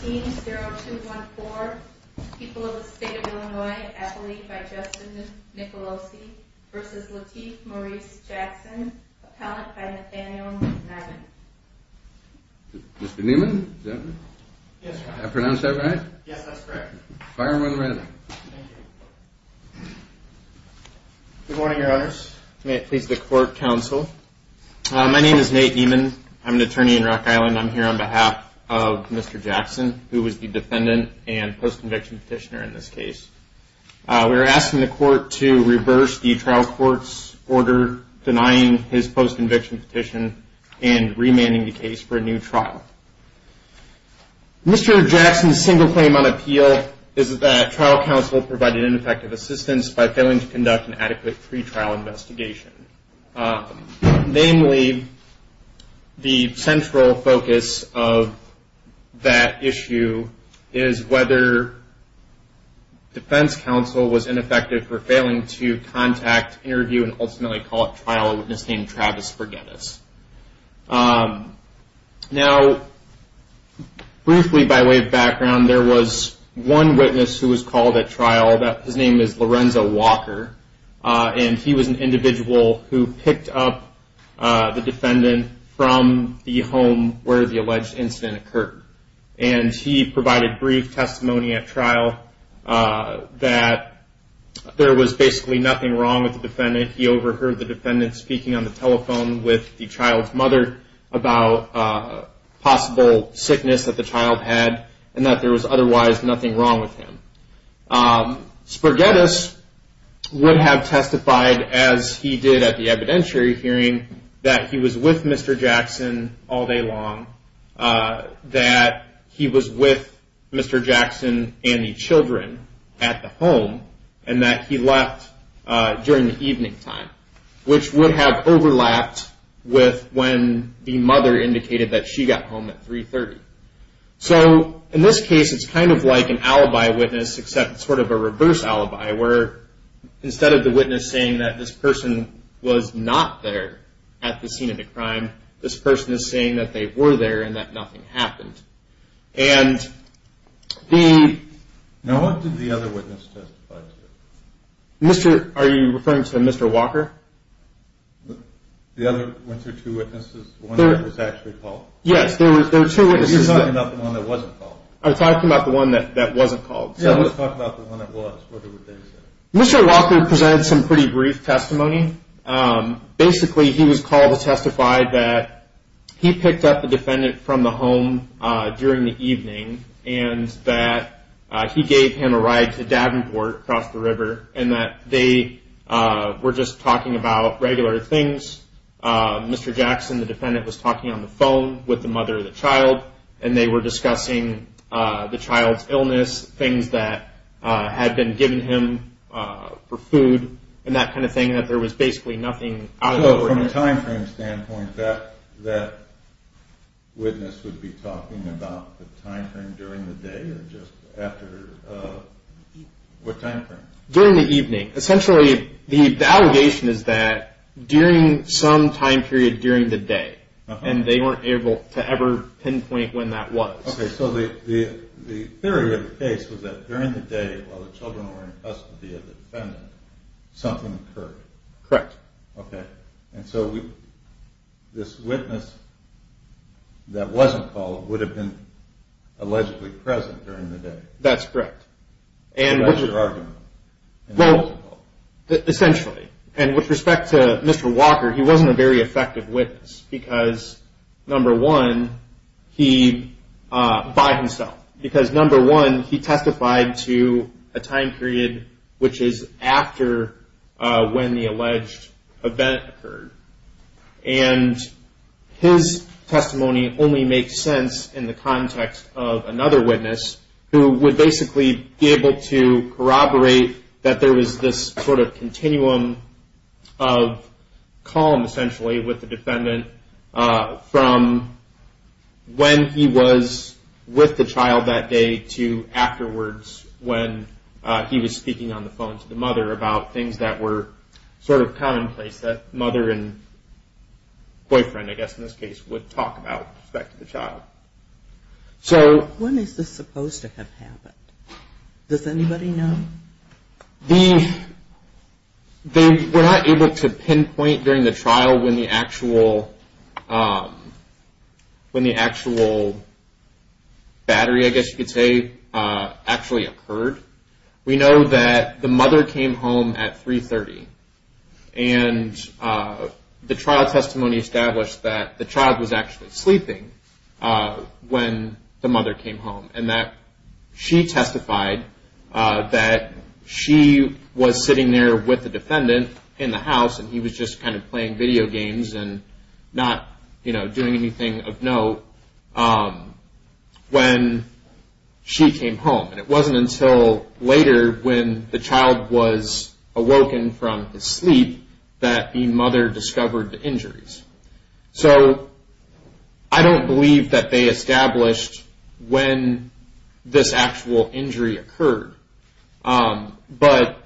0214, people of the state of Illinois, appellee by Justin Nicolosi v. Lateef Maurice Jackson, appellant by Nathaniel Neiman. Mr. Neiman, did I pronounce that right? Yes, that's correct. Fire him right away. Thank you. Good morning, your honors. May it please the court, counsel. My name is Nate Neiman. I'm an attorney in Rock Island. I'm here on behalf of Mr. Jackson, who is the defendant and post-conviction petitioner in this case. We're asking the court to reverse the trial court's order denying his post-conviction petition and remanding the case for a new trial. Mr. Jackson's single claim on appeal is that trial counsel provided ineffective assistance by failing to conduct an adequate pre-trial investigation. Namely, the central focus of that issue is whether defense counsel was ineffective for failing to contact, interview, and ultimately call at trial a witness named Travis Forgettus. Now, briefly by way of background, there was one witness who was called at trial. His name is Lorenzo Walker, and he was an individual who picked up the defendant from the home where the alleged incident occurred. And he provided brief testimony at trial that there was basically nothing wrong with the defendant. He overheard the defendant speaking on the telephone with the child's mother about possible sickness that the child had and that there was otherwise nothing wrong with him. Sporgettus would have testified as he did at the evidentiary hearing that he was with Mr. Jackson all day long, that he was with Mr. Jackson and the children at the home, and that he left during the evening time, which would have overlapped with when the mother indicated that she got home at 3.30. So in this case, it's kind of like an alibi witness, except sort of a reverse alibi, where instead of the witness saying that this person was not there at the scene of the crime, this person is saying that they were there and that nothing happened. And the... Now, what did the other witness testify to? Are you referring to Mr. Walker? The other two witnesses, the one that was actually called? Yes, there were two witnesses. Are you talking about the one that wasn't called? I'm talking about the one that wasn't called. Yeah, let's talk about the one that was. What did they say? Mr. Walker presented some pretty brief testimony. Basically, he was called to testify that he picked up the defendant from the home during the evening and that he gave him a ride to Davenport across the river and that they were just talking about regular things. Mr. Jackson, the defendant, was talking on the phone with the mother of the child and they were discussing the child's illness, things that had been given him for food, and that kind of thing, that there was basically nothing out of the ordinary. So from a time frame standpoint, that witness would be talking about the time frame during the day or just after... what time frame? During the evening. Essentially, the allegation is that during some time period during the day, and they weren't able to ever pinpoint when that was. Okay, so the theory of the case was that during the day, while the children were in custody of the defendant, something occurred. Correct. Okay, and so this witness that wasn't called would have been allegedly present during the day. That's correct. And what's your argument? Well, essentially, and with respect to Mr. Walker, he wasn't a very effective witness because, number one, by himself. Because, number one, he testified to a time period which is after when the alleged event occurred. And his testimony only makes sense in the context of another witness who would basically be able to corroborate that there was this sort of continuum of calm, essentially, with the defendant from when he was with the child that day to afterwards when he was speaking on the phone to the mother about things that were sort of commonplace that mother and boyfriend, I guess in this case, would talk about with respect to the child. When is this supposed to have happened? Does anybody know? We're not able to pinpoint during the trial when the actual battery, I guess you could say, actually occurred. We know that the mother came home at 3.30, and the trial testimony established that the child was actually sleeping when the mother came home and that she testified that she was sitting there with the defendant in the house and he was just kind of playing video games and not doing anything of note when she came home. And it wasn't until later when the child was awoken from his sleep that the mother discovered the injuries. So I don't believe that they established when this actual injury occurred, but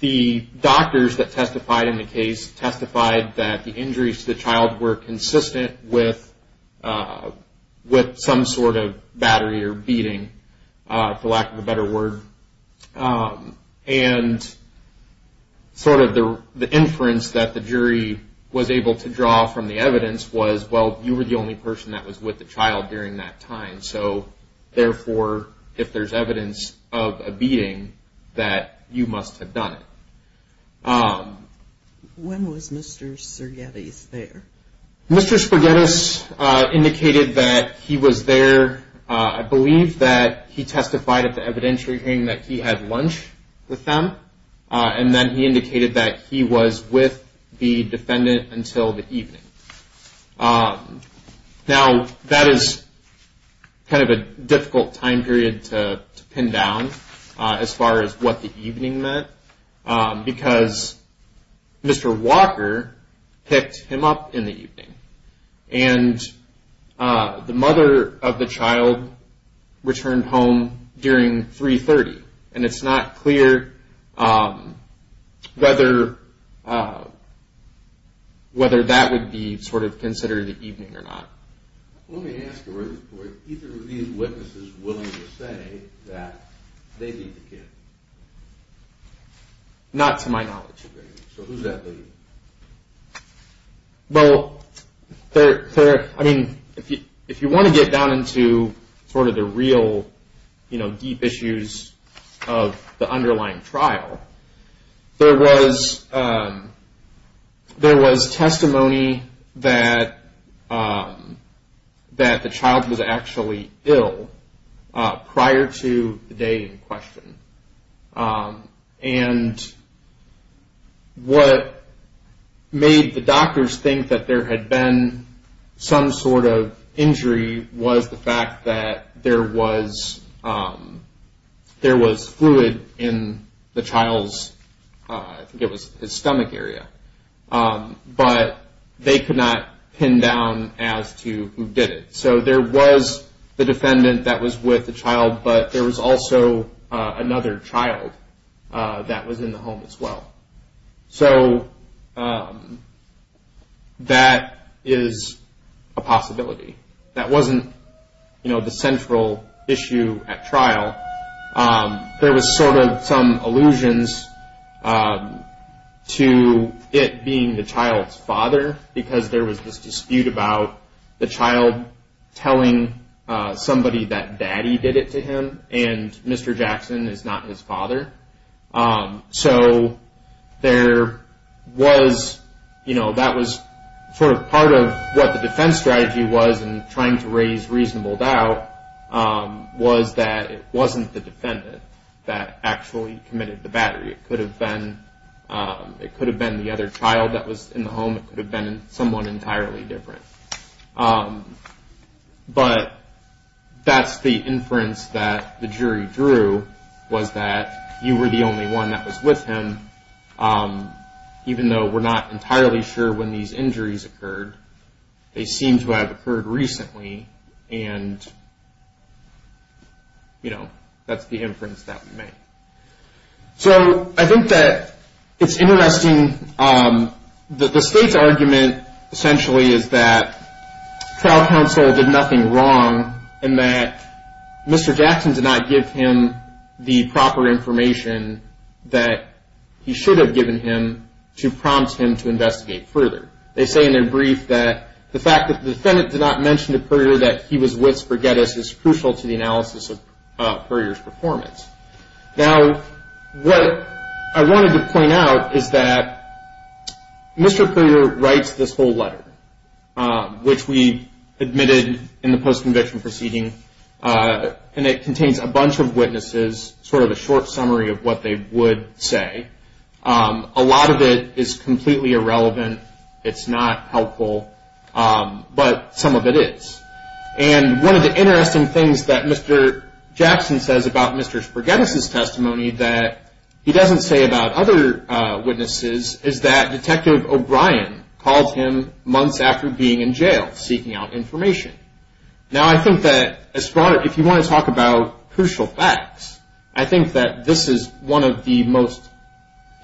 the doctors that testified in the case testified that the injuries to the child were consistent with some sort of battery or beating, for lack of a better word. And sort of the inference that the jury was able to draw from the evidence was, well, you were the only person that was with the child during that time, so therefore if there's evidence of a beating, that you must have done it. When was Mr. Sergetis there? Mr. Sergetis indicated that he was there, I believe that he testified at the evidentiary hearing that he had lunch with them, and then he indicated that he was with the defendant until the evening. Now, that is kind of a difficult time period to pin down as far as what the evening meant, because Mr. Walker picked him up in the evening, and the mother of the child returned home during 3.30, and it's not clear whether that would be sort of considered the evening or not. Let me ask you, were either of these witnesses willing to say that they beat the kid? Not to my knowledge, Your Honor. So who's that beating? Well, if you want to get down into sort of the real deep issues of the underlying trial, there was testimony that the child was actually ill prior to the day in question, and what made the doctors think that there had been some sort of injury was the fact that there was fluid in the child's stomach area, but they could not pin down as to who did it. So there was the defendant that was with the child, but there was also another child that was in the home as well. So that is a possibility. That wasn't the central issue at trial. There was sort of some allusions to it being the child's father, because there was this dispute about the child telling somebody that daddy did it to him, and Mr. Jackson is not his father. So that was sort of part of what the defense strategy was in trying to raise reasonable doubt, was that it wasn't the defendant that actually committed the battery. It could have been the other child that was in the home. It could have been someone entirely different. But that's the inference that the jury drew, was that you were the only one that was with him, even though we're not entirely sure when these injuries occurred. They seem to have occurred recently, and that's the inference that we made. So I think that it's interesting. The state's argument, essentially, is that trial counsel did nothing wrong in that Mr. Jackson did not give him the proper information that he should have given him to prompt him to investigate further. They say in their brief that the fact that the defendant did not mention to Puryear that he was with Spraguetis is crucial to the analysis of Puryear's performance. Now, what I wanted to point out is that Mr. Puryear writes this whole letter, which we admitted in the post-conviction proceeding, and it contains a bunch of witnesses, sort of a short summary of what they would say. A lot of it is completely irrelevant. It's not helpful, but some of it is. And one of the interesting things that Mr. Jackson says about Mr. Spraguetis' testimony that he doesn't say about other witnesses is that Detective O'Brien called him months after being in jail, seeking out information. Now, I think that, if you want to talk about crucial facts, I think that this is one of the most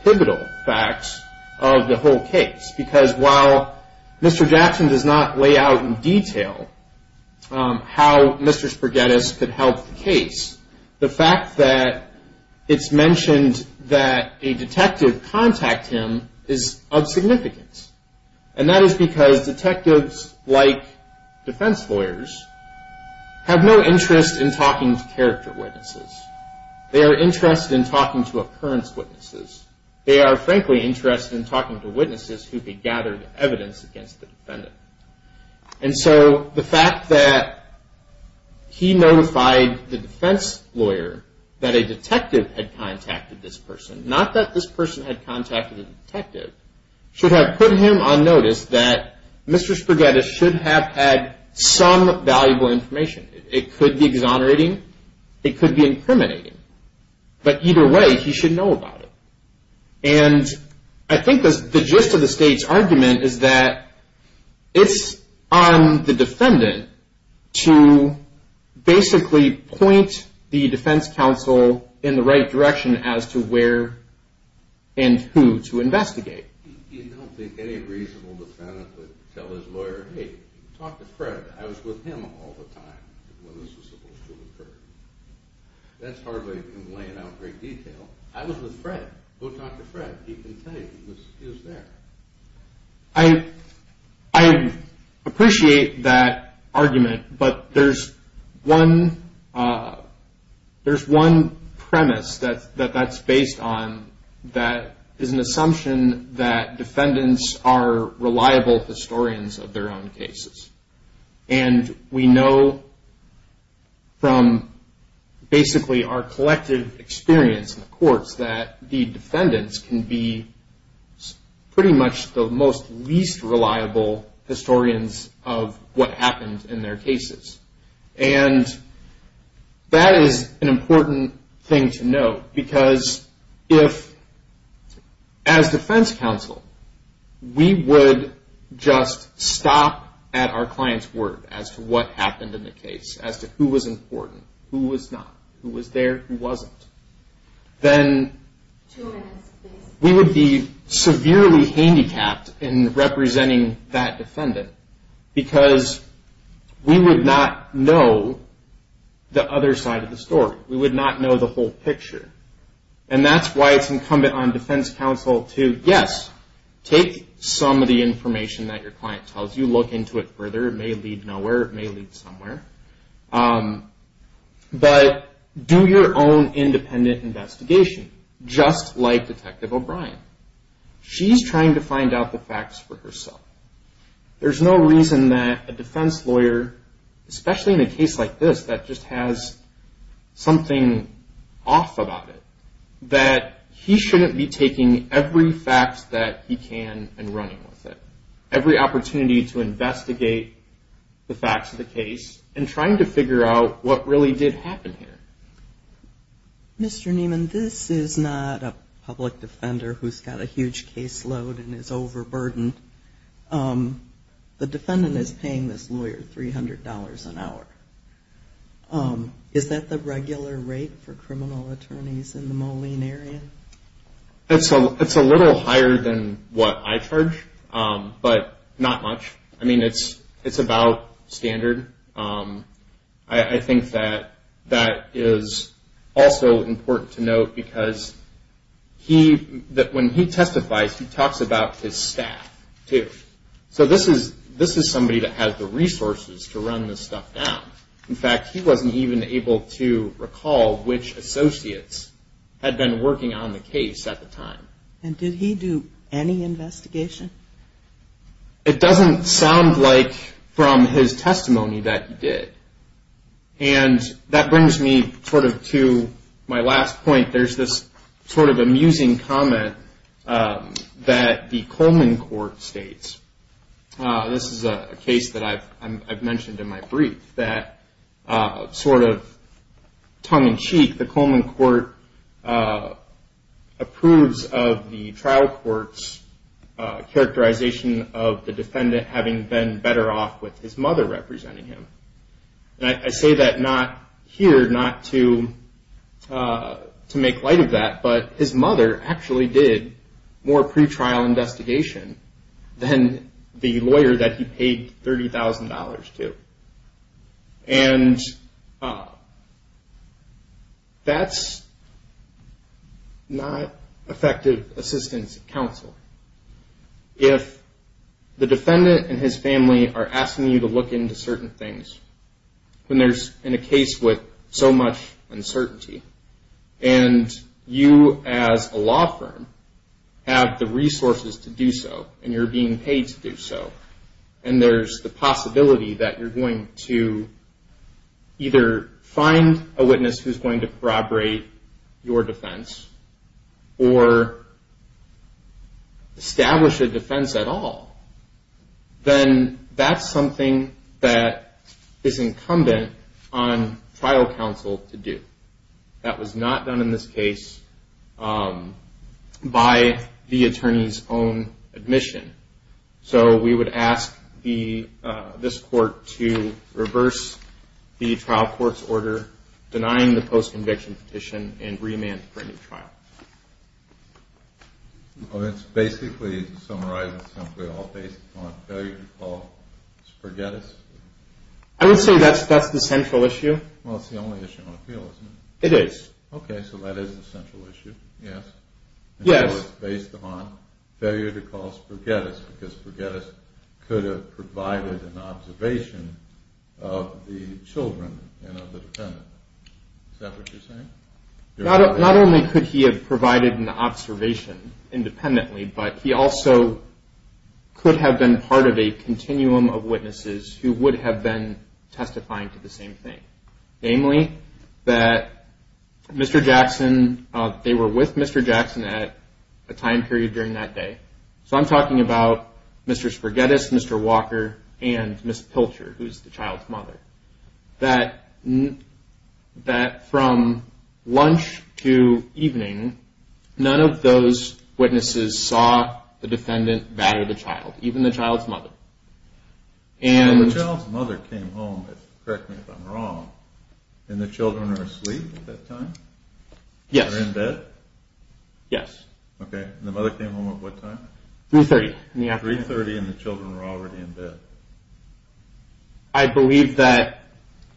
pivotal facts of the whole case, because while Mr. Jackson does not lay out in detail how Mr. Spraguetis could help the case, the fact that it's mentioned that a detective contact him is of significance. And that is because detectives, like defense lawyers, have no interest in talking to character witnesses. They are interested in talking to occurrence witnesses. They are, frankly, interested in talking to witnesses who could gather evidence against the defendant. And so the fact that he notified the defense lawyer that a detective had contacted this person, not that this person had contacted a detective, should have put him on notice that Mr. Spraguetis should have had some valuable information. It could be exonerating. It could be incriminating. But either way, he should know about it. And I think the gist of the state's argument is that it's on the defendant to basically point the defense counsel in the right direction as to where and who to investigate. You don't think any reasonable defendant would tell his lawyer, hey, talk to Fred. I was with him all the time when this was supposed to occur. That's hardly in laying out in great detail. I was with Fred. Go talk to Fred. He can tell you. He was there. I appreciate that argument, but there's one premise that that's based on that is an assumption that defendants are reliable historians of their own cases. And we know from basically our collective experience in the courts that the defendants can be pretty much the most least reliable historians of what happened in their cases. And that is an important thing to know because if, as defense counsel, we would just stop at our client's word as to what happened in the case, as to who was important, who was not, who was there, who wasn't, then we would be severely handicapped in representing that defendant because we would not know the other side of the story. We would not know the whole picture. And that's why it's incumbent on defense counsel to, yes, take some of the information that your client tells you, look into it further. It may lead nowhere. It may lead somewhere. But do your own independent investigation, just like Detective O'Brien. She's trying to find out the facts for herself. There's no reason that a defense lawyer, especially in a case like this, that just has something off about it, that he shouldn't be taking every fact that he can and running with it, every opportunity to investigate the facts of the case and trying to figure out what really did happen here. Mr. Nieman, this is not a public defender who's got a huge caseload and is overburdened. The defendant is paying this lawyer $300 an hour. Is that the regular rate for criminal attorneys in the Moline area? It's a little higher than what I charge, but not much. I mean, it's about standard. I think that that is also important to note because when he testifies, he talks about his staff, too. So this is somebody that has the resources to run this stuff down. In fact, he wasn't even able to recall which associates had been working on the case at the time. And did he do any investigation? It doesn't sound like from his testimony that he did. And that brings me sort of to my last point. There's this sort of amusing comment that the Coleman court states. This is a case that I've mentioned in my brief that sort of tongue-in-cheek, the Coleman court approves of the trial court's characterization of the defendant having been better off with his mother representing him. I say that here not to make light of that, but his mother actually did more pretrial investigation than the lawyer that he paid $30,000 to. And that's not effective assistance counsel. If the defendant and his family are asking you to look into certain things when there's, in a case with so much uncertainty, and you as a law firm have the resources to do so, and you're being paid to do so, and there's the possibility that you're going to either find a witness who's going to corroborate your defense or establish a defense at all, then that's something that is incumbent on trial counsel to do. That was not done in this case by the attorney's own admission. So we would ask this court to reverse the trial court's order denying the post-conviction petition and remand for a new trial. It's basically summarized simply all based on failure to call Sporgettis? I would say that's the central issue. Well, it's the only issue on appeal, isn't it? It is. Okay, so that is the central issue, yes? Yes. So it's based upon failure to call Sporgettis, because Sporgettis could have provided an observation of the children and of the defendant. Is that what you're saying? Not only could he have provided an observation independently, but he also could have been part of a continuum of witnesses who would have been testifying to the same thing, namely that Mr. Jackson, they were with Mr. Jackson at a time period during that day. So I'm talking about Mr. Sporgettis, Mr. Walker, and Ms. Pilcher, who's the child's mother, that from lunch to evening, none of those witnesses saw the defendant batter the child, even the child's mother. And the child's mother came home, correct me if I'm wrong, and the children are asleep at that time? Yes. They're in bed? Yes. 3.30 in the afternoon. 3.30 and the children were already in bed. I believe that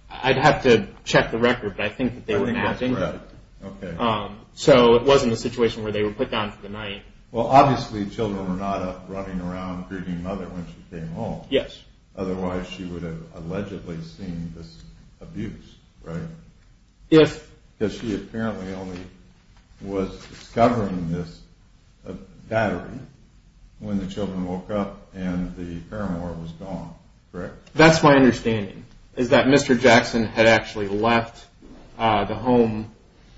I'd have to check the record, but I think that they were napping. I think that's correct. Okay. So it wasn't a situation where they were put down for the night. Well, obviously children were not up running around grieving mother when she came home. Yes. Otherwise she would have allegedly seen this abuse, right? Yes. Because she apparently only was discovering this battery when the children woke up and the paramour was gone, correct? That's my understanding, is that Mr. Jackson had actually left the home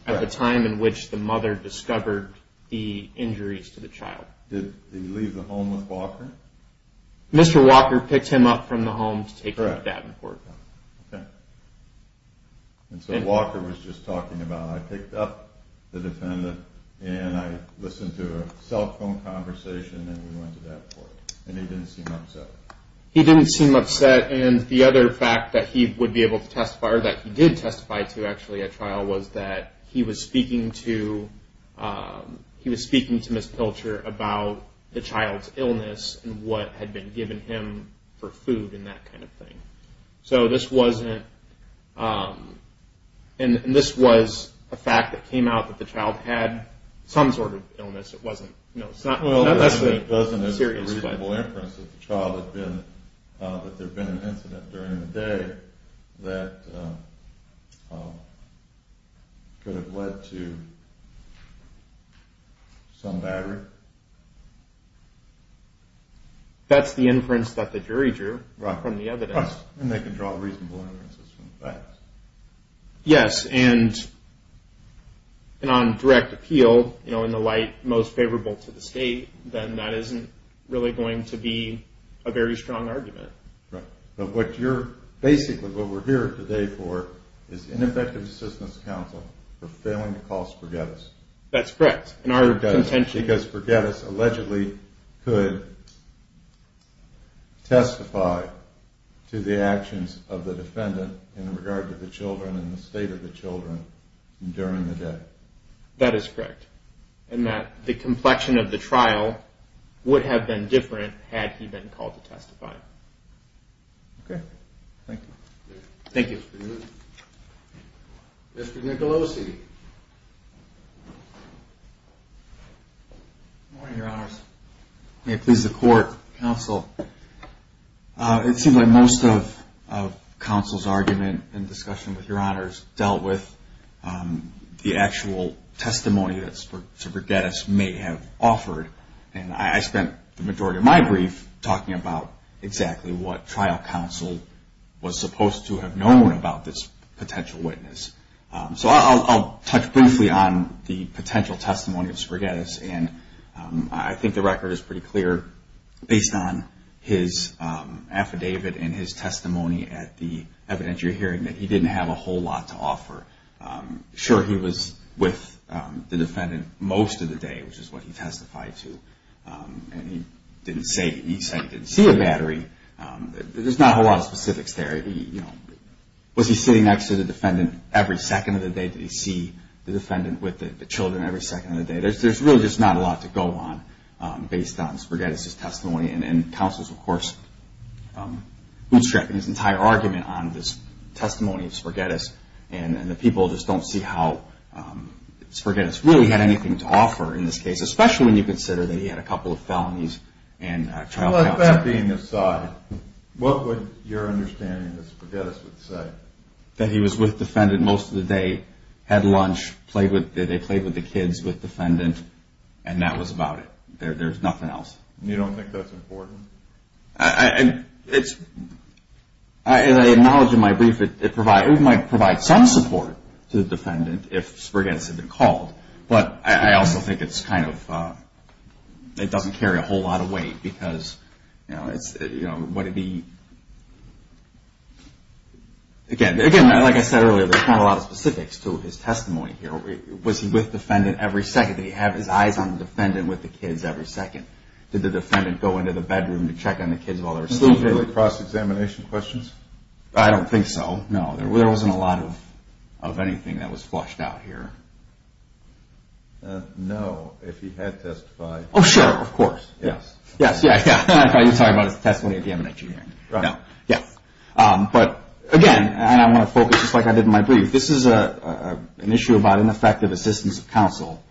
at the time in which the mother discovered the injuries to the child. Did he leave the home with Walker? Mr. Walker picked him up from the home to take to the dad and court. Correct. Okay. And so Walker was just talking about, I picked up the defendant and I listened to a cell phone conversation and we went to dad court and he didn't seem upset. He didn't seem upset. And the other fact that he would be able to testify or that he did testify to actually at trial was that he was speaking to Ms. Pilcher about the child's illness and what had been given him for food and that kind of thing. So this wasn't, and this was a fact that came out that the child had some sort of illness. It wasn't, you know, it's not necessarily serious. Well, doesn't it make reasonable inference that the child had been, that there had been an incident during the day that could have led to some battery? That's the inference that the jury drew from the evidence. Right. And they can draw reasonable inferences from facts. Yes. And on direct appeal, you know, in the light most favorable to the state, then that isn't really going to be a very strong argument. Right. But what you're, basically what we're here today for is ineffective assistance counsel for failing to call Spaghetti's. That's correct. In our contention. Because Spaghetti's allegedly could testify to the actions of the defendant in regard to the children and the state of the children during the day. That is correct. And that the complexion of the trial would have been different had he been called to testify. Okay. Thank you. Thank you. Mr. Nicolosi. Good morning, Your Honors. May it please the court, counsel. It seems like most of counsel's argument and discussion with Your Honors dealt with the actual testimony that Spaghetti's may have offered. And I spent the majority of my brief talking about exactly what trial counsel was supposed to have known about this potential witness. So I'll touch briefly on the potential testimony of Spaghetti's. And I think the record is pretty clear based on his affidavit and his testimony at the evidentiary hearing that he didn't have a whole lot to offer. Sure, he was with the defendant most of the day, which is what he testified to. And he didn't say he didn't see a battery. There's not a whole lot of specifics there. Was he sitting next to the defendant every second of the day? Did he see the defendant with the children every second of the day? There's really just not a lot to go on based on Spaghetti's testimony. And counsel's, of course, bootstrapping his entire argument on this testimony of Spaghetti's. And the people just don't see how Spaghetti's really had anything to offer in this case, especially when you consider that he had a couple of felonies and trial counsel. With that being aside, what would your understanding that Spaghetti's would say? That he was with defendant most of the day, had lunch, they played with the kids with defendant, and that was about it. There's nothing else. You don't think that's important? As I acknowledge in my brief, it might provide some support to the defendant if Spaghetti's had been called. But I also think it doesn't carry a whole lot of weight. Again, like I said earlier, there's not a lot of specifics to his testimony here. Was he with defendant every second? Did he have his eyes on the defendant with the kids every second? Did the defendant go into the bedroom to check on the kids while they were sleeping? Was there any cross-examination questions? I don't think so. No, there wasn't a lot of anything that was flushed out here. No, if he had testified. Oh, sure, of course. Yes. Yes, yes, yes. I thought you were talking about his testimony at the M&H hearing. Right. Yes. But again, and I want to focus just like I did in my brief, this is an issue about ineffective assistance of counsel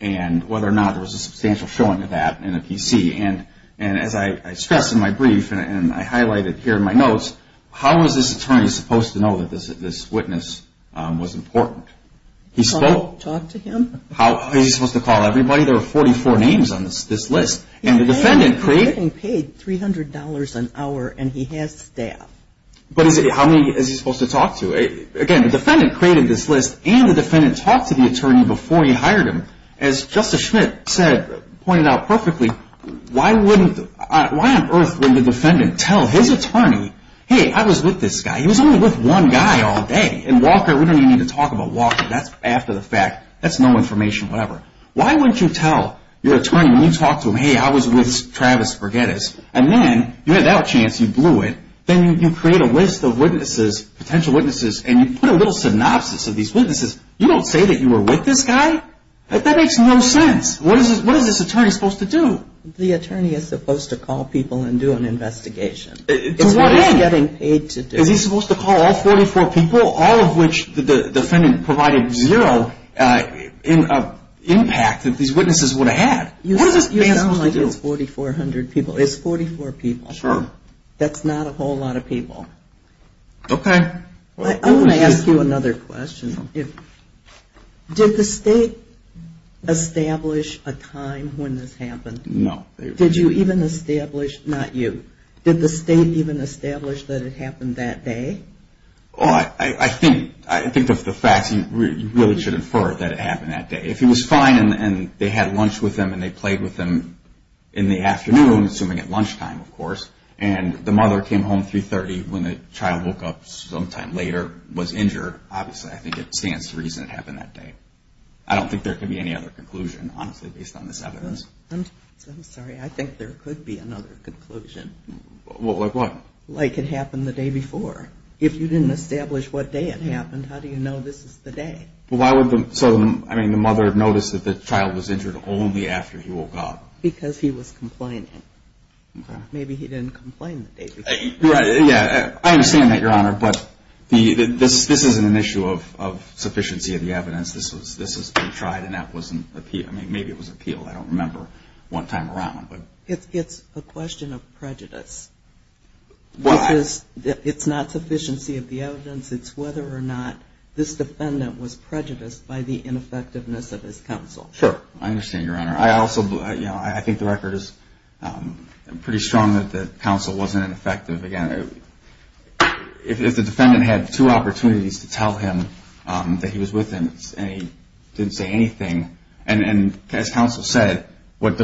and whether or not there was a substantial showing of that in the PC. And as I stressed in my brief and I highlighted here in my notes, how was this attorney supposed to know that this witness was important? Talk to him. How was he supposed to call everybody? There were 44 names on this list. And the defendant created. He paid $300 an hour and he has staff. But how many is he supposed to talk to? Again, the defendant created this list and the defendant talked to the attorney before he hired him. As Justice Schmidt said, pointed out perfectly, why on earth would the defendant tell his attorney, hey, I was with this guy. He was only with one guy all day. And Walker, we don't even need to talk about Walker. That's after the fact. That's no information, whatever. Why wouldn't you tell your attorney when you talk to him, hey, I was with Travis Bergettis, and then you had that chance, you blew it, then you create a list of witnesses, potential witnesses, and you put a little synopsis of these witnesses. You don't say that you were with this guy? That makes no sense. What is this attorney supposed to do? The attorney is supposed to call people and do an investigation. To what end? It's what he's getting paid to do. Is he supposed to call all 44 people, all of which the defendant provided zero impact that these witnesses would have had? What is this man supposed to do? You sound like it's 4,400 people. It's 44 people. Sure. That's not a whole lot of people. Okay. I want to ask you another question. Did the state establish a time when this happened? No. Did you even establish, not you, did the state even establish that it happened that day? I think of the facts, you really should infer that it happened that day. If he was fine and they had lunch with him and they played with him in the afternoon, assuming at lunchtime, of course, and the mother came home 3.30 when the child woke up sometime later, was injured, obviously I think it stands to reason it happened that day. I don't think there could be any other conclusion, honestly, based on this evidence. I'm sorry. I think there could be another conclusion. Like what? Like it happened the day before. If you didn't establish what day it happened, how do you know this is the day? Why would the mother notice that the child was injured only after he woke up? Because he was complaining. Maybe he didn't complain the day before. I understand that, Your Honor, but this isn't an issue of sufficiency of the evidence. This was tried and that wasn't appealed. Maybe it was appealed. I don't remember one time around. It's a question of prejudice. It's not sufficiency of the evidence. It's whether or not this defendant was prejudiced by the ineffectiveness of his counsel. Sure. I understand, Your Honor. I think the record is pretty strong that the counsel wasn't ineffective. Again, if the defendant had two opportunities to tell him that he was with him and he didn't say anything, and as counsel said, what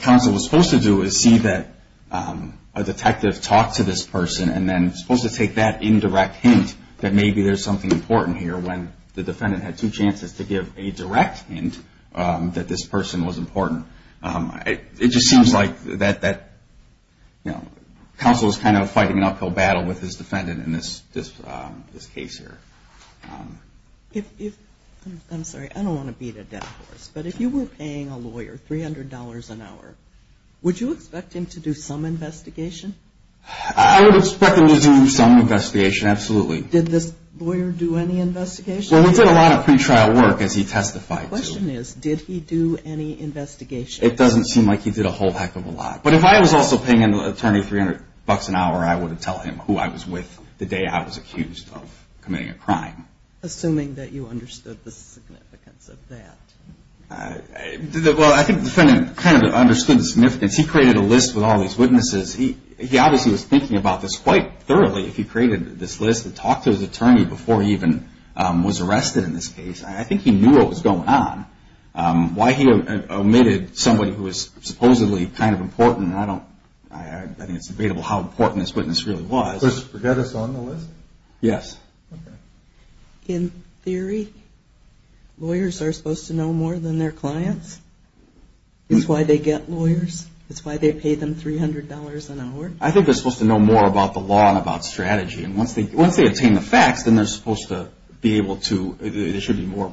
counsel was supposed to do was see that a detective talked to this person and then supposed to take that indirect hint that maybe there's something important here when the defendant had two chances to give a direct hint that this person was important. It just seems like that counsel is kind of fighting an uphill battle with his defendant in this case here. I'm sorry. I don't want to beat a dead horse, but if you were paying a lawyer $300 an hour, would you expect him to do some investigation? I would expect him to do some investigation, absolutely. Did this lawyer do any investigation? Well, we did a lot of pretrial work as he testified. The question is, did he do any investigation? It doesn't seem like he did a whole heck of a lot. But if I was also paying an attorney $300 an hour, I would have told him who I was with the day I was accused of committing a crime. Assuming that you understood the significance of that. Well, I think the defendant kind of understood the significance. He created a list with all these witnesses. He obviously was thinking about this quite thoroughly if he created this list and talked to his attorney before he even was arrested in this case. I think he knew what was going on. Why he omitted somebody who was supposedly kind of important, I don't think it's debatable how important this witness really was. Does this forget us on the list? Yes. In theory, lawyers are supposed to know more than their clients. It's why they get lawyers. It's why they pay them $300 an hour. I think they're supposed to know more about the law and about strategy. Once they obtain the facts, then they're supposed to be able to, they should be more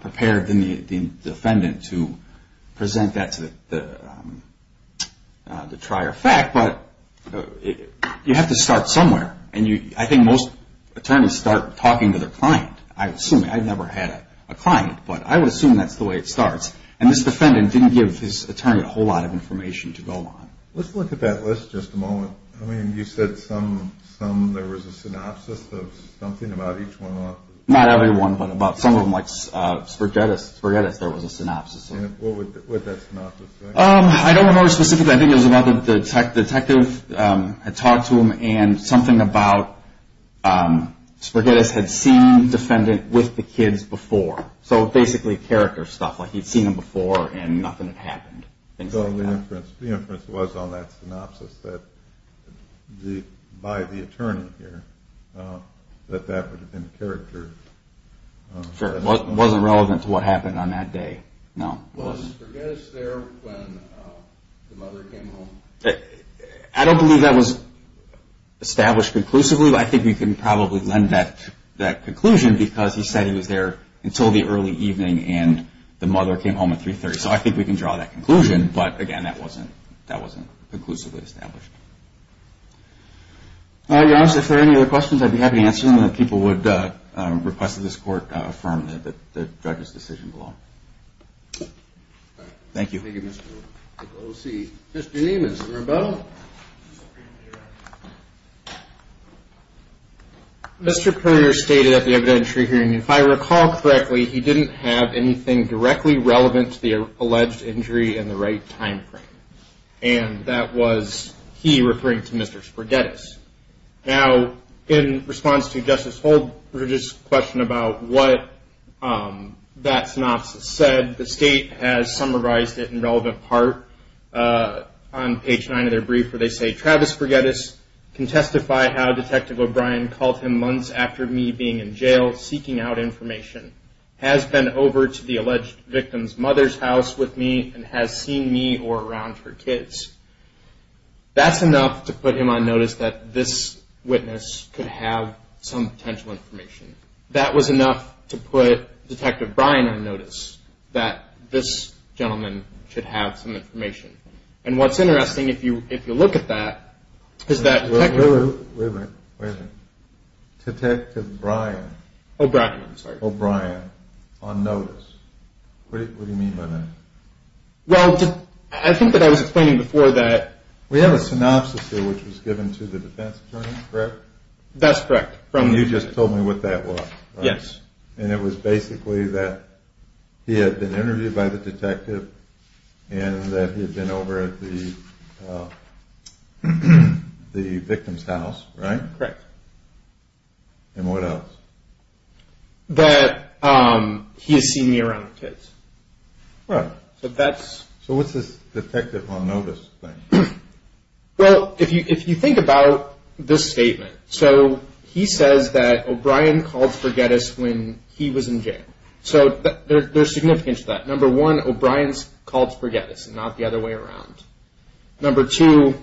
prepared than the defendant to present that to the trier of fact. But you have to start somewhere. I think most attorneys start talking to their client. I've never had a client, but I would assume that's the way it starts. And this defendant didn't give his attorney a whole lot of information to go on. Let's look at that list just a moment. I mean, you said there was a synopsis of something about each one of them. Not every one, but about some of them, like Spaghettis, there was a synopsis. What would that synopsis be? I don't remember specifically. I think it was about the detective had talked to him, and something about Spaghettis had seen the defendant with the kids before. So basically character stuff, like he'd seen them before and nothing had happened. The inference was on that synopsis by the attorney here, that that would have been character. Sure, it wasn't relevant to what happened on that day. Was Spaghettis there when the mother came home? I don't believe that was established conclusively, but I think we can probably lend that conclusion because he said he was there until the early evening and the mother came home at 3.30. So I think we can draw that conclusion, but again, that wasn't conclusively established. If there are any other questions, I'd be happy to answer them. People would request that this court affirm the judge's decision below. Thank you. Thank you, Mr. O.C. Mr. Neiman, is there a vote? Mr. Purner stated at the evidentiary hearing, if I recall correctly, he didn't have anything directly relevant to the alleged injury in the right time frame, and that was he referring to Mr. Spaghettis. Now, in response to Justice Holdridge's question about what that synopsis said, the state has summarized it in relevant part. On page 9 of their brief where they say, Travis Spaghettis can testify how Detective O'Brien called him months after me being in jail seeking out information, has been over to the alleged victim's mother's house with me, and has seen me or around her kids. That's enough to put him on notice that this witness could have some potential information. That was enough to put Detective O'Brien on notice that this gentleman should have some information. And what's interesting, if you look at that, is that Detective O'Brien on notice. What do you mean by that? Well, I think that I was explaining before that. We have a synopsis here which was given to the defense attorney, correct? That's correct. You just told me what that was, right? Yes. And it was basically that he had been interviewed by the detective and that he had been over at the victim's house, right? Correct. And what else? That he has seen me around the kids. Right. So that's... So what's this detective on notice thing? Well, if you think about this statement. He says that O'Brien called Sporgettis when he was in jail. So there's significance to that. Number one, O'Brien called Sporgettis and not the other way around. Number two,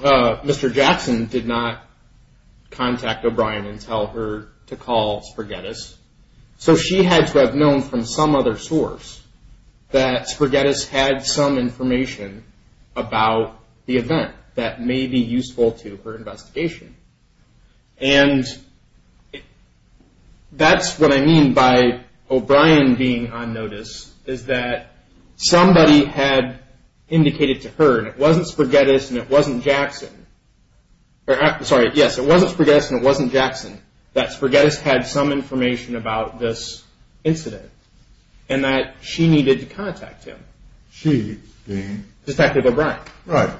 Mr. Jackson did not contact O'Brien and tell her to call Sporgettis. So she had to have known from some other source that Sporgettis had some information about the event that may be useful to her investigation. And that's what I mean by O'Brien being on notice is that somebody had indicated to her, and it wasn't Sporgettis and it wasn't Jackson. Sorry, yes, it wasn't Sporgettis and it wasn't Jackson, that Sporgettis had some information about this incident and that she needed to contact him. She being? Detective O'Brien. Right.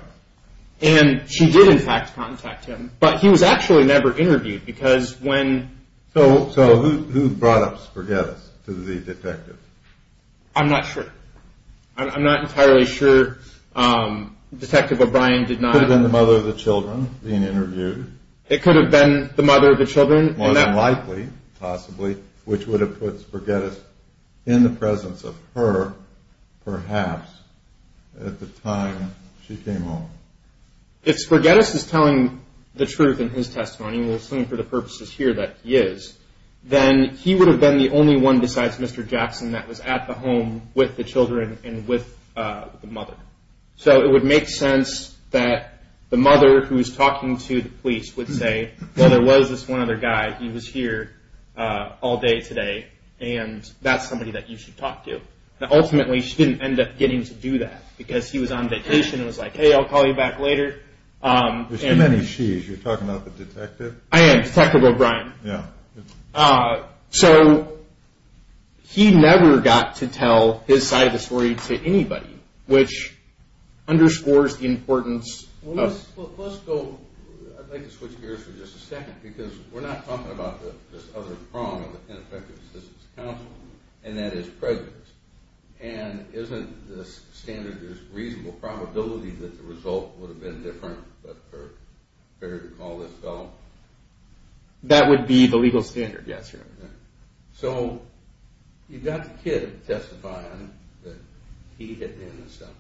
And she did, in fact, contact him, but he was actually never interviewed because when... So who brought up Sporgettis to the detective? I'm not sure. I'm not entirely sure. Detective O'Brien did not... Could have been the mother of the children being interviewed. It could have been the mother of the children. More than likely, possibly, which would have put Sporgettis in the presence of her, perhaps, at the time she came home. If Sporgettis is telling the truth in his testimony, and we'll assume for the purposes here that he is, then he would have been the only one besides Mr. Jackson that was at the home with the children and with the mother. So it would make sense that the mother who was talking to the police would say, well, there was this one other guy, he was here all day today, and that's somebody that you should talk to. Ultimately, she didn't end up getting to do that because he was on vacation and was like, hey, I'll call you back later. There's too many she's. You're talking about the detective? I am. Detective O'Brien. Yeah. So he never got to tell his side of the story to anybody, which underscores the importance of... Well, let's go... I'd like to switch gears for just a second because we're not talking about this other prong of the Ineffective Assistance Council, and that is prejudice. And isn't the standard there's reasonable probability that the result would have been different, but fair to call this out? That would be the legal standard, yes. So you've got the kid testifying that he hit me in the stomach.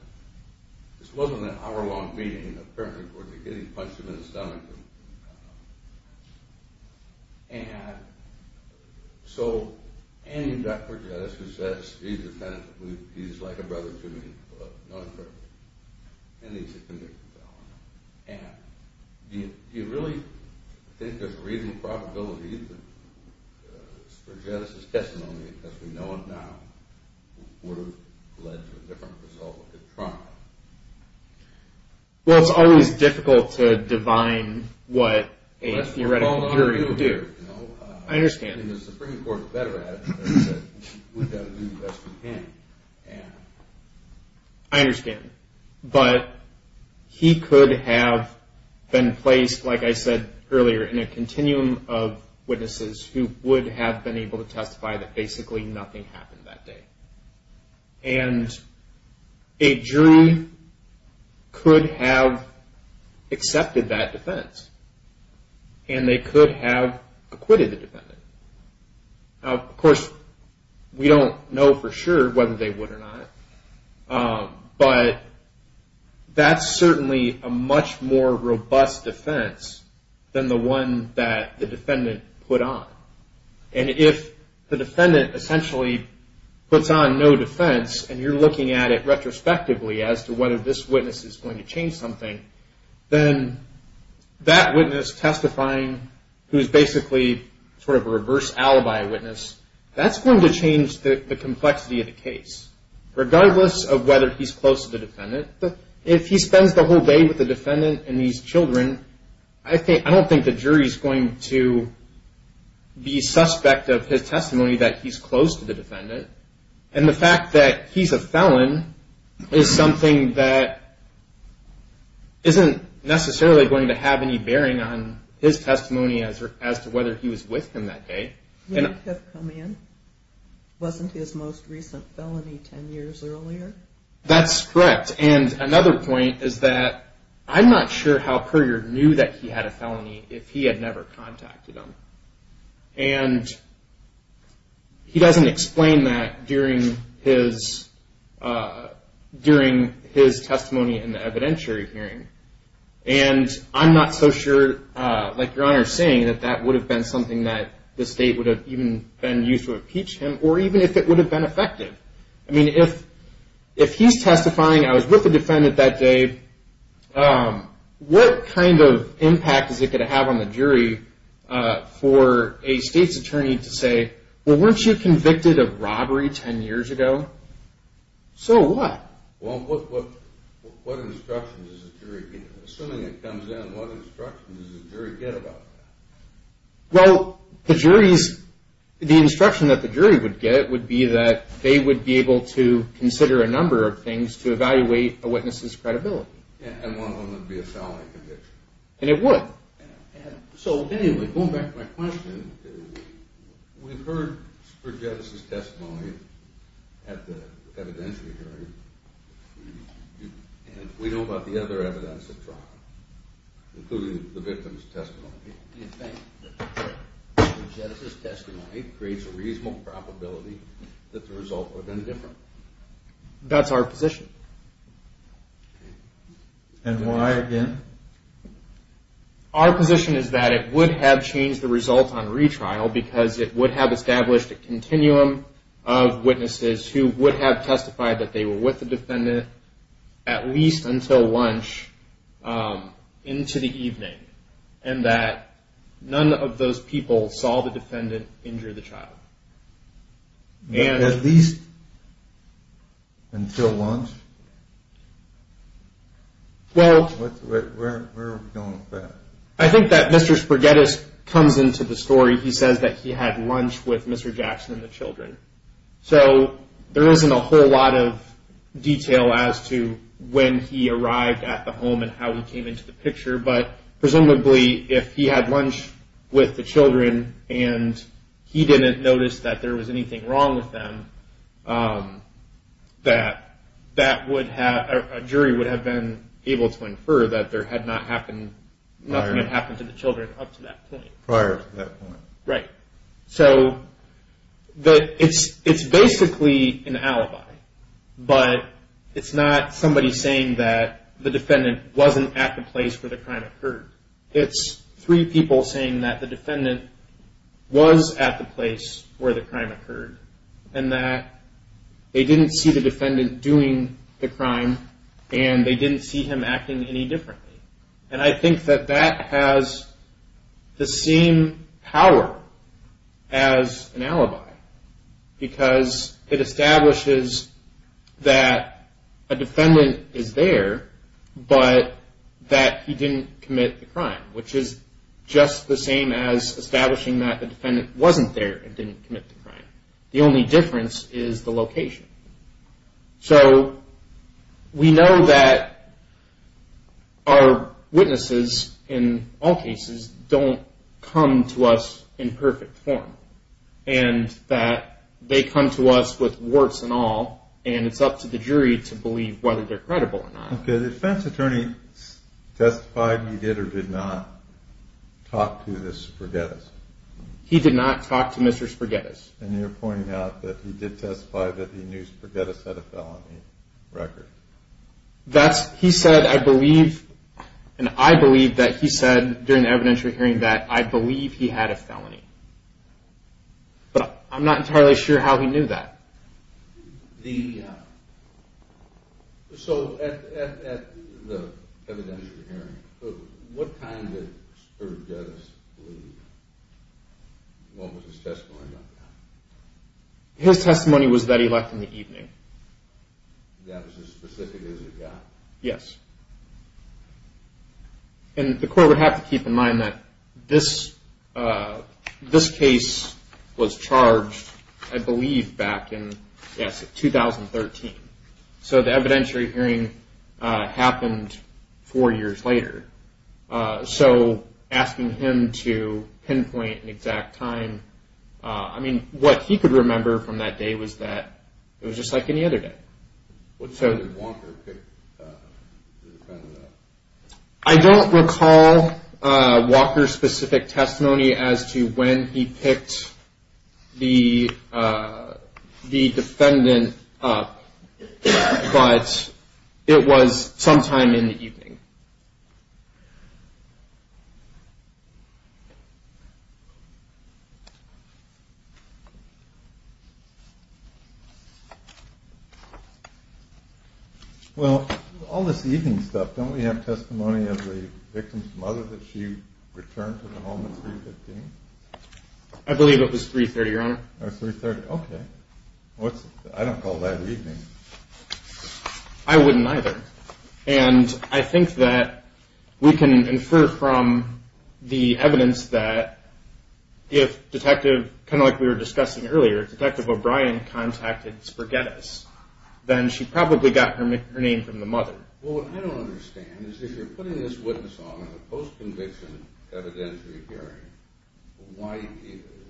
This wasn't an hour-long meeting, apparently, where they're getting punched him in the stomach. And so you've got prejudice who says he's a friend, he's like a brother to me, but not a friend. And he's a convicted felon. And do you really think there's a reasonable probability that prejudice is testimony, because we know it now, would have led to a different result if it had tried? Well, it's always difficult to divine what a theoretical jury would do. I understand. And the Supreme Court's better at it. We've got to do the best we can. I understand. But he could have been placed, like I said earlier, in a continuum of witnesses who would have been able to testify that basically nothing happened that day. And a jury could have accepted that defense, and they could have acquitted the defendant. Now, of course, we don't know for sure whether they would or not, but that's certainly a much more robust defense than the one that the defendant put on. And if the defendant essentially puts on no defense, and you're looking at it retrospectively as to whether this witness is going to change something, then that witness testifying, who is basically sort of a reverse alibi witness, that's going to change the complexity of the case, regardless of whether he's close to the defendant. If he spends the whole day with the defendant and these children, I don't think the jury's going to be suspect of his testimony that he's close to the defendant. And the fact that he's a felon is something that isn't necessarily going to have any bearing on his testimony as to whether he was with him that day. He might have come in. Wasn't his most recent felony 10 years earlier? That's correct. And another point is that I'm not sure how Currier knew that he had a felony if he had never contacted him. And he doesn't explain that during his testimony in the evidentiary hearing. And I'm not so sure, like Your Honor is saying, that that would have been something that the state would have even been used to impeach him, or even if it would have been effective. I mean, if he's testifying, I was with the defendant that day, what kind of impact is it going to have on the jury for a state's attorney to say, well, weren't you convicted of robbery 10 years ago? So what? Well, what instruction does the jury get? Assuming it comes in, what instruction does the jury get about that? Well, the jury's – the instruction that the jury would get would be that they would be able to consider a number of things to evaluate a witness's credibility. And one of them would be a felony conviction. And it would. So anyway, going back to my question, we've heard Spurgettis' testimony at the evidentiary hearing, and we know about the other evidence at trial, including the victim's testimony. Do you think that Spurgettis' testimony creates a reasonable probability that the results would have been different? That's our position. And why, again? Our position is that it would have changed the results on retrial because it would have established a continuum of witnesses who would have testified that they were with the defendant at least until lunch into the evening, and that none of those people saw the defendant injure the child. At least until lunch? Well – Where are we going with that? I think that Mr. Spurgettis comes into the story, he says that he had lunch with Mr. Jackson and the children. So there isn't a whole lot of detail as to when he arrived at the home and how he came into the picture, but presumably if he had lunch with the children and he didn't notice that there was anything wrong with them, a jury would have been able to infer that nothing had happened to the children up to that point. Prior to that point. Right. So it's basically an alibi, but it's not somebody saying that the defendant wasn't at the place where the crime occurred. It's three people saying that the defendant was at the place where the crime occurred and that they didn't see the defendant doing the crime and they didn't see him acting any differently. And I think that that has the same power as an alibi because it establishes that a defendant is there, but that he didn't commit the crime, which is just the same as establishing that the defendant wasn't there and didn't commit the crime. The only difference is the location. So we know that our witnesses, in all cases, don't come to us in perfect form and that they come to us with warts and all and it's up to the jury to believe whether they're credible or not. Okay, the defense attorney testified he did or did not talk to the Sporgettis. He did not talk to Mr. Sporgettis. And you're pointing out that he did testify that he knew Sporgettis had a felony record. He said, I believe, and I believe that he said during the evidentiary hearing, that I believe he had a felony. But I'm not entirely sure how he knew that. So at the evidentiary hearing, what kind did Sporgettis believe? What was his testimony like? His testimony was that he left in the evening. That was as specific as he got? Yes. And the court would have to keep in mind that this case was charged, I believe, back in 2013. So the evidentiary hearing happened four years later. So asking him to pinpoint an exact time, I mean, what he could remember from that day was that it was just like any other day. Did Walker pick the defendant up? I don't recall Walker's specific testimony as to when he picked the defendant up. But it was sometime in the evening. Well, all this evening stuff, don't we have testimony of the victim's mother that she returned to the home at 3.15? I believe it was 3.30, Your Honor. Okay. I don't call that evening. I wouldn't either. And I think that we can infer from the evidence that if Detective, kind of like we were discussing earlier, Detective O'Brien contacted Sporgettis, then she probably got her name from the mother. Well, what I don't understand is if you're putting this witness on at a post-conviction evidentiary hearing, why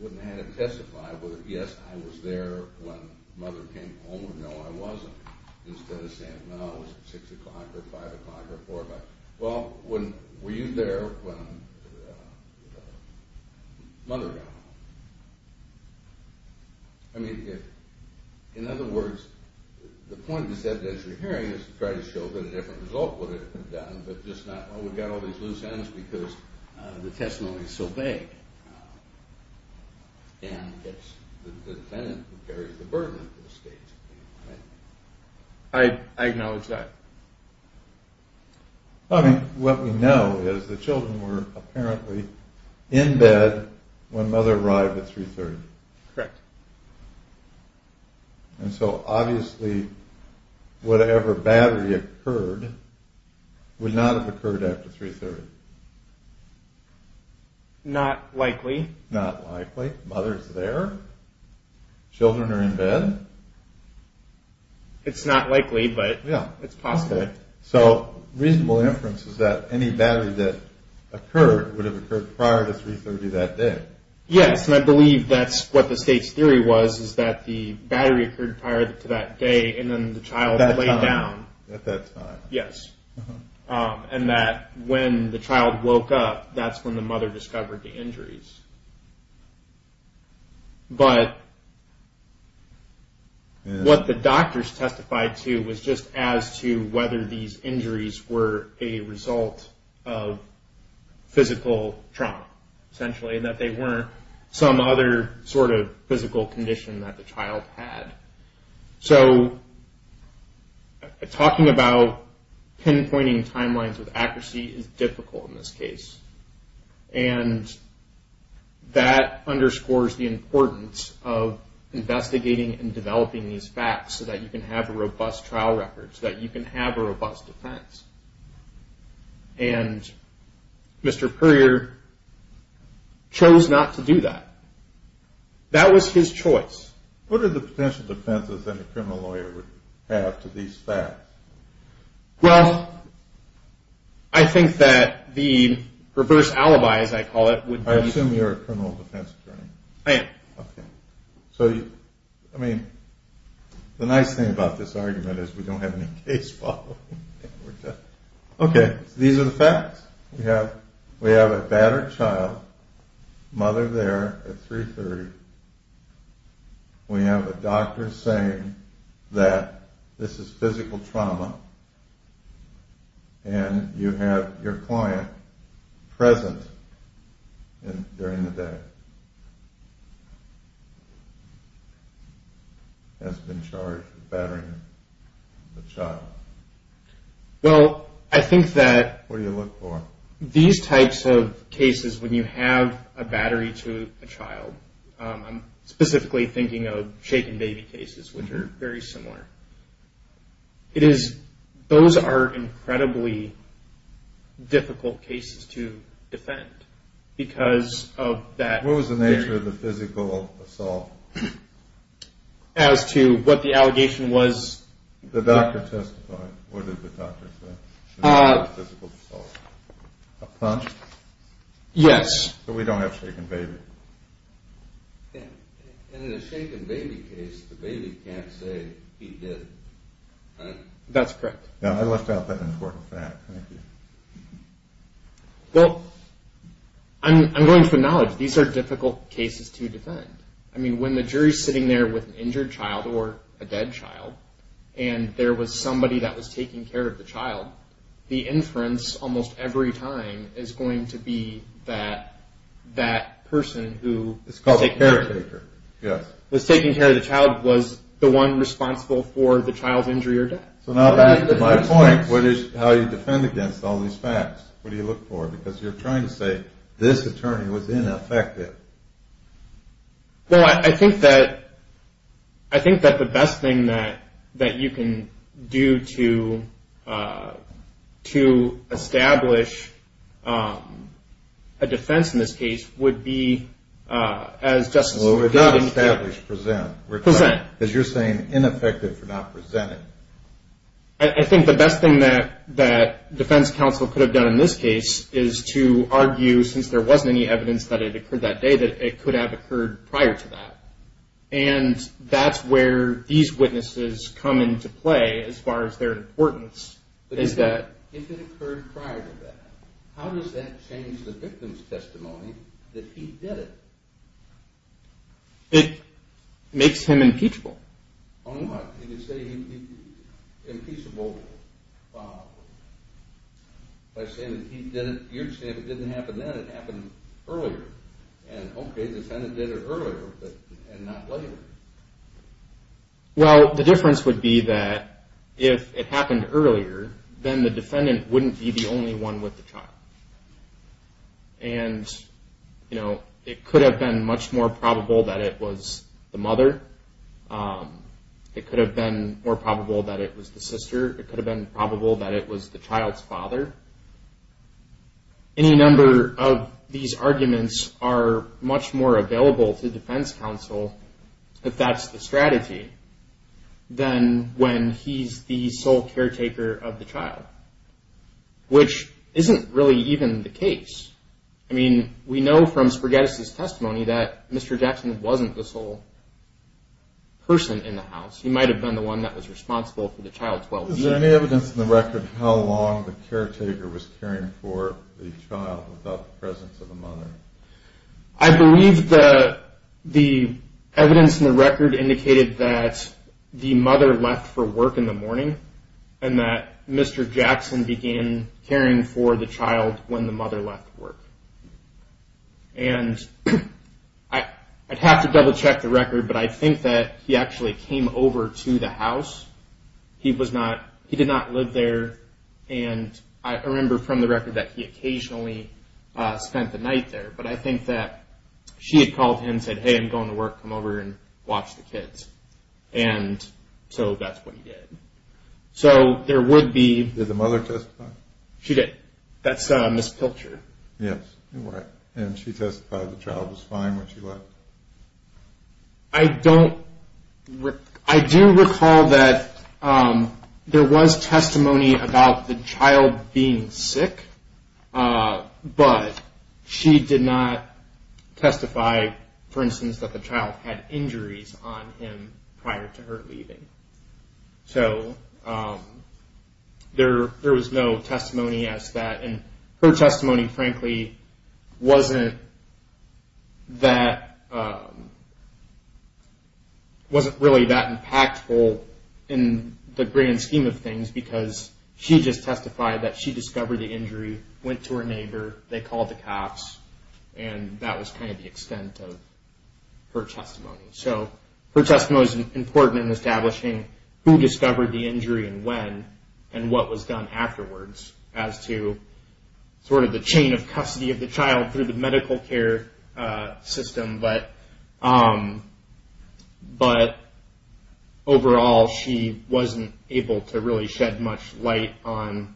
wouldn't they have him testify whether, yes, I was there when Mother came home or no, I wasn't, instead of saying, no, it was 6 o'clock or 5 o'clock or 4 o'clock. Well, were you there when Mother got home? I mean, in other words, the point of this evidentiary hearing is to try to show that a different result would have been done, but just not, well, we've got all these loose ends because the testimony is so vague and it's the defendant who carries the burden at this stage. I acknowledge that. I mean, what we know is the children were apparently in bed when Mother arrived at 3.30. Correct. And so, obviously, whatever battery occurred would not have occurred after 3.30. Not likely. Not likely. Mother's there. Children are in bed. It's not likely, but it's possible. So, reasonable inference is that any battery that occurred would have occurred prior to 3.30 that day. Yes, and I believe that's what the state's theory was, is that the battery occurred prior to that day and then the child lay down. At that time. Yes, and that when the child woke up, that's when the mother discovered the injuries. But what the doctors testified to was just as to whether these injuries were a result of physical trauma, essentially, that they weren't some other sort of physical condition that the child had. So, talking about pinpointing timelines with accuracy is difficult in this case. And that underscores the importance of investigating and developing these facts so that you can have a robust trial record, so that you can have a robust defense. And Mr. Puryear chose not to do that. That was his choice. What are the potential defenses that a criminal lawyer would have to these facts? Well, I think that the reverse alibi, as I call it, would be... I assume you're a criminal defense attorney. I am. So, I mean, the nice thing about this argument is we don't have any case following. Okay, these are the facts. We have a battered child, mother there at 3.30. We have a doctor saying that this is physical trauma. And you have your client present during the day, has been charged with battering the child. Well, I think that... What do you look for? These types of cases, when you have a battery to a child, I'm specifically thinking of shaken baby cases, which are very similar. It is... Those are incredibly difficult cases to defend because of that... What was the nature of the physical assault? As to what the allegation was... The doctor testified. What did the doctor say? Physical assault. A punch? Yes. So we don't have shaken baby. And in a shaken baby case, the baby can't say he did it, right? That's correct. Now, I left out that important fact. Thank you. Well, I'm going to acknowledge these are difficult cases to defend. I mean, when the jury is sitting there with an injured child or a dead child, and there was somebody that was taking care of the child, the inference almost every time is going to be that that person who... It's called the caretaker, yes. ...was taking care of the child was the one responsible for the child's injury or death. So now that is my point. What is how you defend against all these facts? What do you look for? Because you're trying to say this attorney was ineffective. Well, I think that the best thing that you can do to establish a defense in this case would be as just... Well, we're not established, present. Present. Because you're saying ineffective for not presenting. I think the best thing that defense counsel could have done in this case is to argue, since there wasn't any evidence that it occurred that day, that it could have occurred prior to that. And that's where these witnesses come into play as far as their importance is that... But if it occurred prior to that, how does that change the victim's testimony that he did it? It makes him impeachable. On what? You could say he'd be impeachable by saying that he did it. You're saying if it didn't happen then, it happened earlier. And, okay, the defendant did it earlier and not later. Well, the difference would be that if it happened earlier, then the defendant wouldn't be the only one with the child. And, you know, it could have been much more probable that it was the mother. It could have been more probable that it was the sister. It could have been probable that it was the child's father. Any number of these arguments are much more available to defense counsel, if that's the strategy, than when he's the sole caretaker of the child, which isn't really even the case. I mean, we know from Sprogettis' testimony that Mr. Jackson wasn't the sole person in the house. He might have been the one that was responsible for the child's well-being. Is there any evidence in the record how long the caretaker was caring for the child without the presence of the mother? I believe the evidence in the record indicated that the mother left for work in the morning and that Mr. Jackson began caring for the child when the mother left work. And I'd have to double-check the record, but I think that he actually came over to the house. He did not live there. And I remember from the record that he occasionally spent the night there. But I think that she had called him and said, hey, I'm going to work. Come over and watch the kids. And so that's what he did. So there would be- Did the mother testify? She did. That's Ms. Pilcher. Yes, you're right. And she testified the child was fine when she left. I don't- I do recall that there was testimony about the child being sick, but she did not testify, for instance, that the child had injuries on him prior to her leaving. So there was no testimony as to that. And her testimony, frankly, wasn't that- wasn't really that impactful in the grand scheme of things because she just testified that she discovered the injury, went to her neighbor, they called the cops, and that was kind of the extent of her testimony. So her testimony was important in establishing who discovered the injury and when and what was done afterwards as to sort of the chain of custody of the child through the medical care system. But overall, she wasn't able to really shed much light on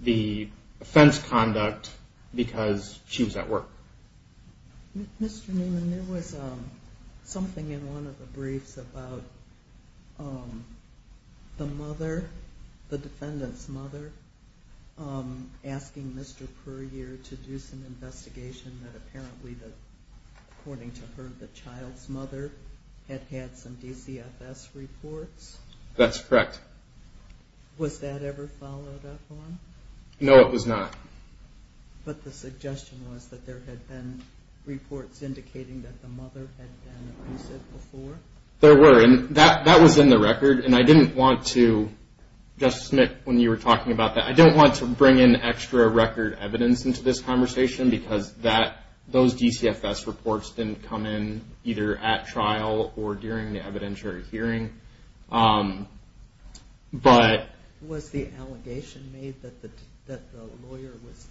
the offense conduct because she was at work. Mr. Newman, there was something in one of the briefs about the mother, the defendant's mother, asking Mr. Puryear to do some investigation that apparently, according to her, the child's mother had had some DCFS reports. That's correct. Was that ever followed up on? No, it was not. But the suggestion was that there had been reports indicating that the mother had been abusive before? There were, and that was in the record. And I didn't want to- Justice Smith, when you were talking about that, I didn't want to bring in extra record evidence into this conversation because those DCFS reports didn't come in either at trial or during the evidentiary hearing. Was the allegation made that the lawyer was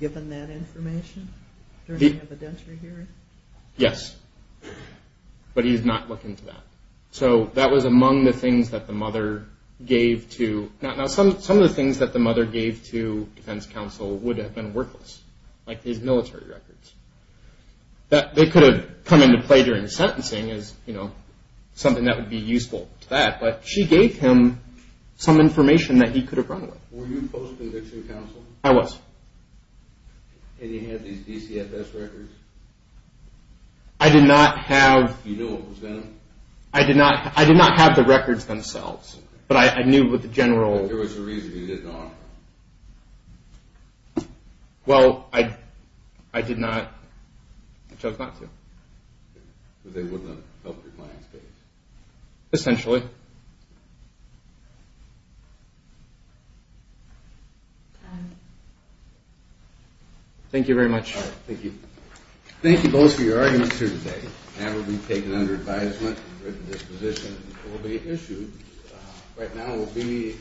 given that information during the evidentiary hearing? Yes. But he did not look into that. So that was among the things that the mother gave to- Now, some of the things that the mother gave to defense counsel would have been worthless, like his military records. They could have come into play during sentencing as something that would be useful to that, but she gave him some information that he could have run with. Were you post-conviction counsel? I was. And you had these DCFS records? I did not have- You knew what was in them? I did not have the records themselves, but I knew what the general- But there was a reason you didn't offer them. Well, I did not. I chose not to. But they wouldn't have helped your client's case? Essentially. Thank you very much. Thank you. Thank you both for your arguments here today. That will be taken under advisement. This position will be issued. Right now we'll be-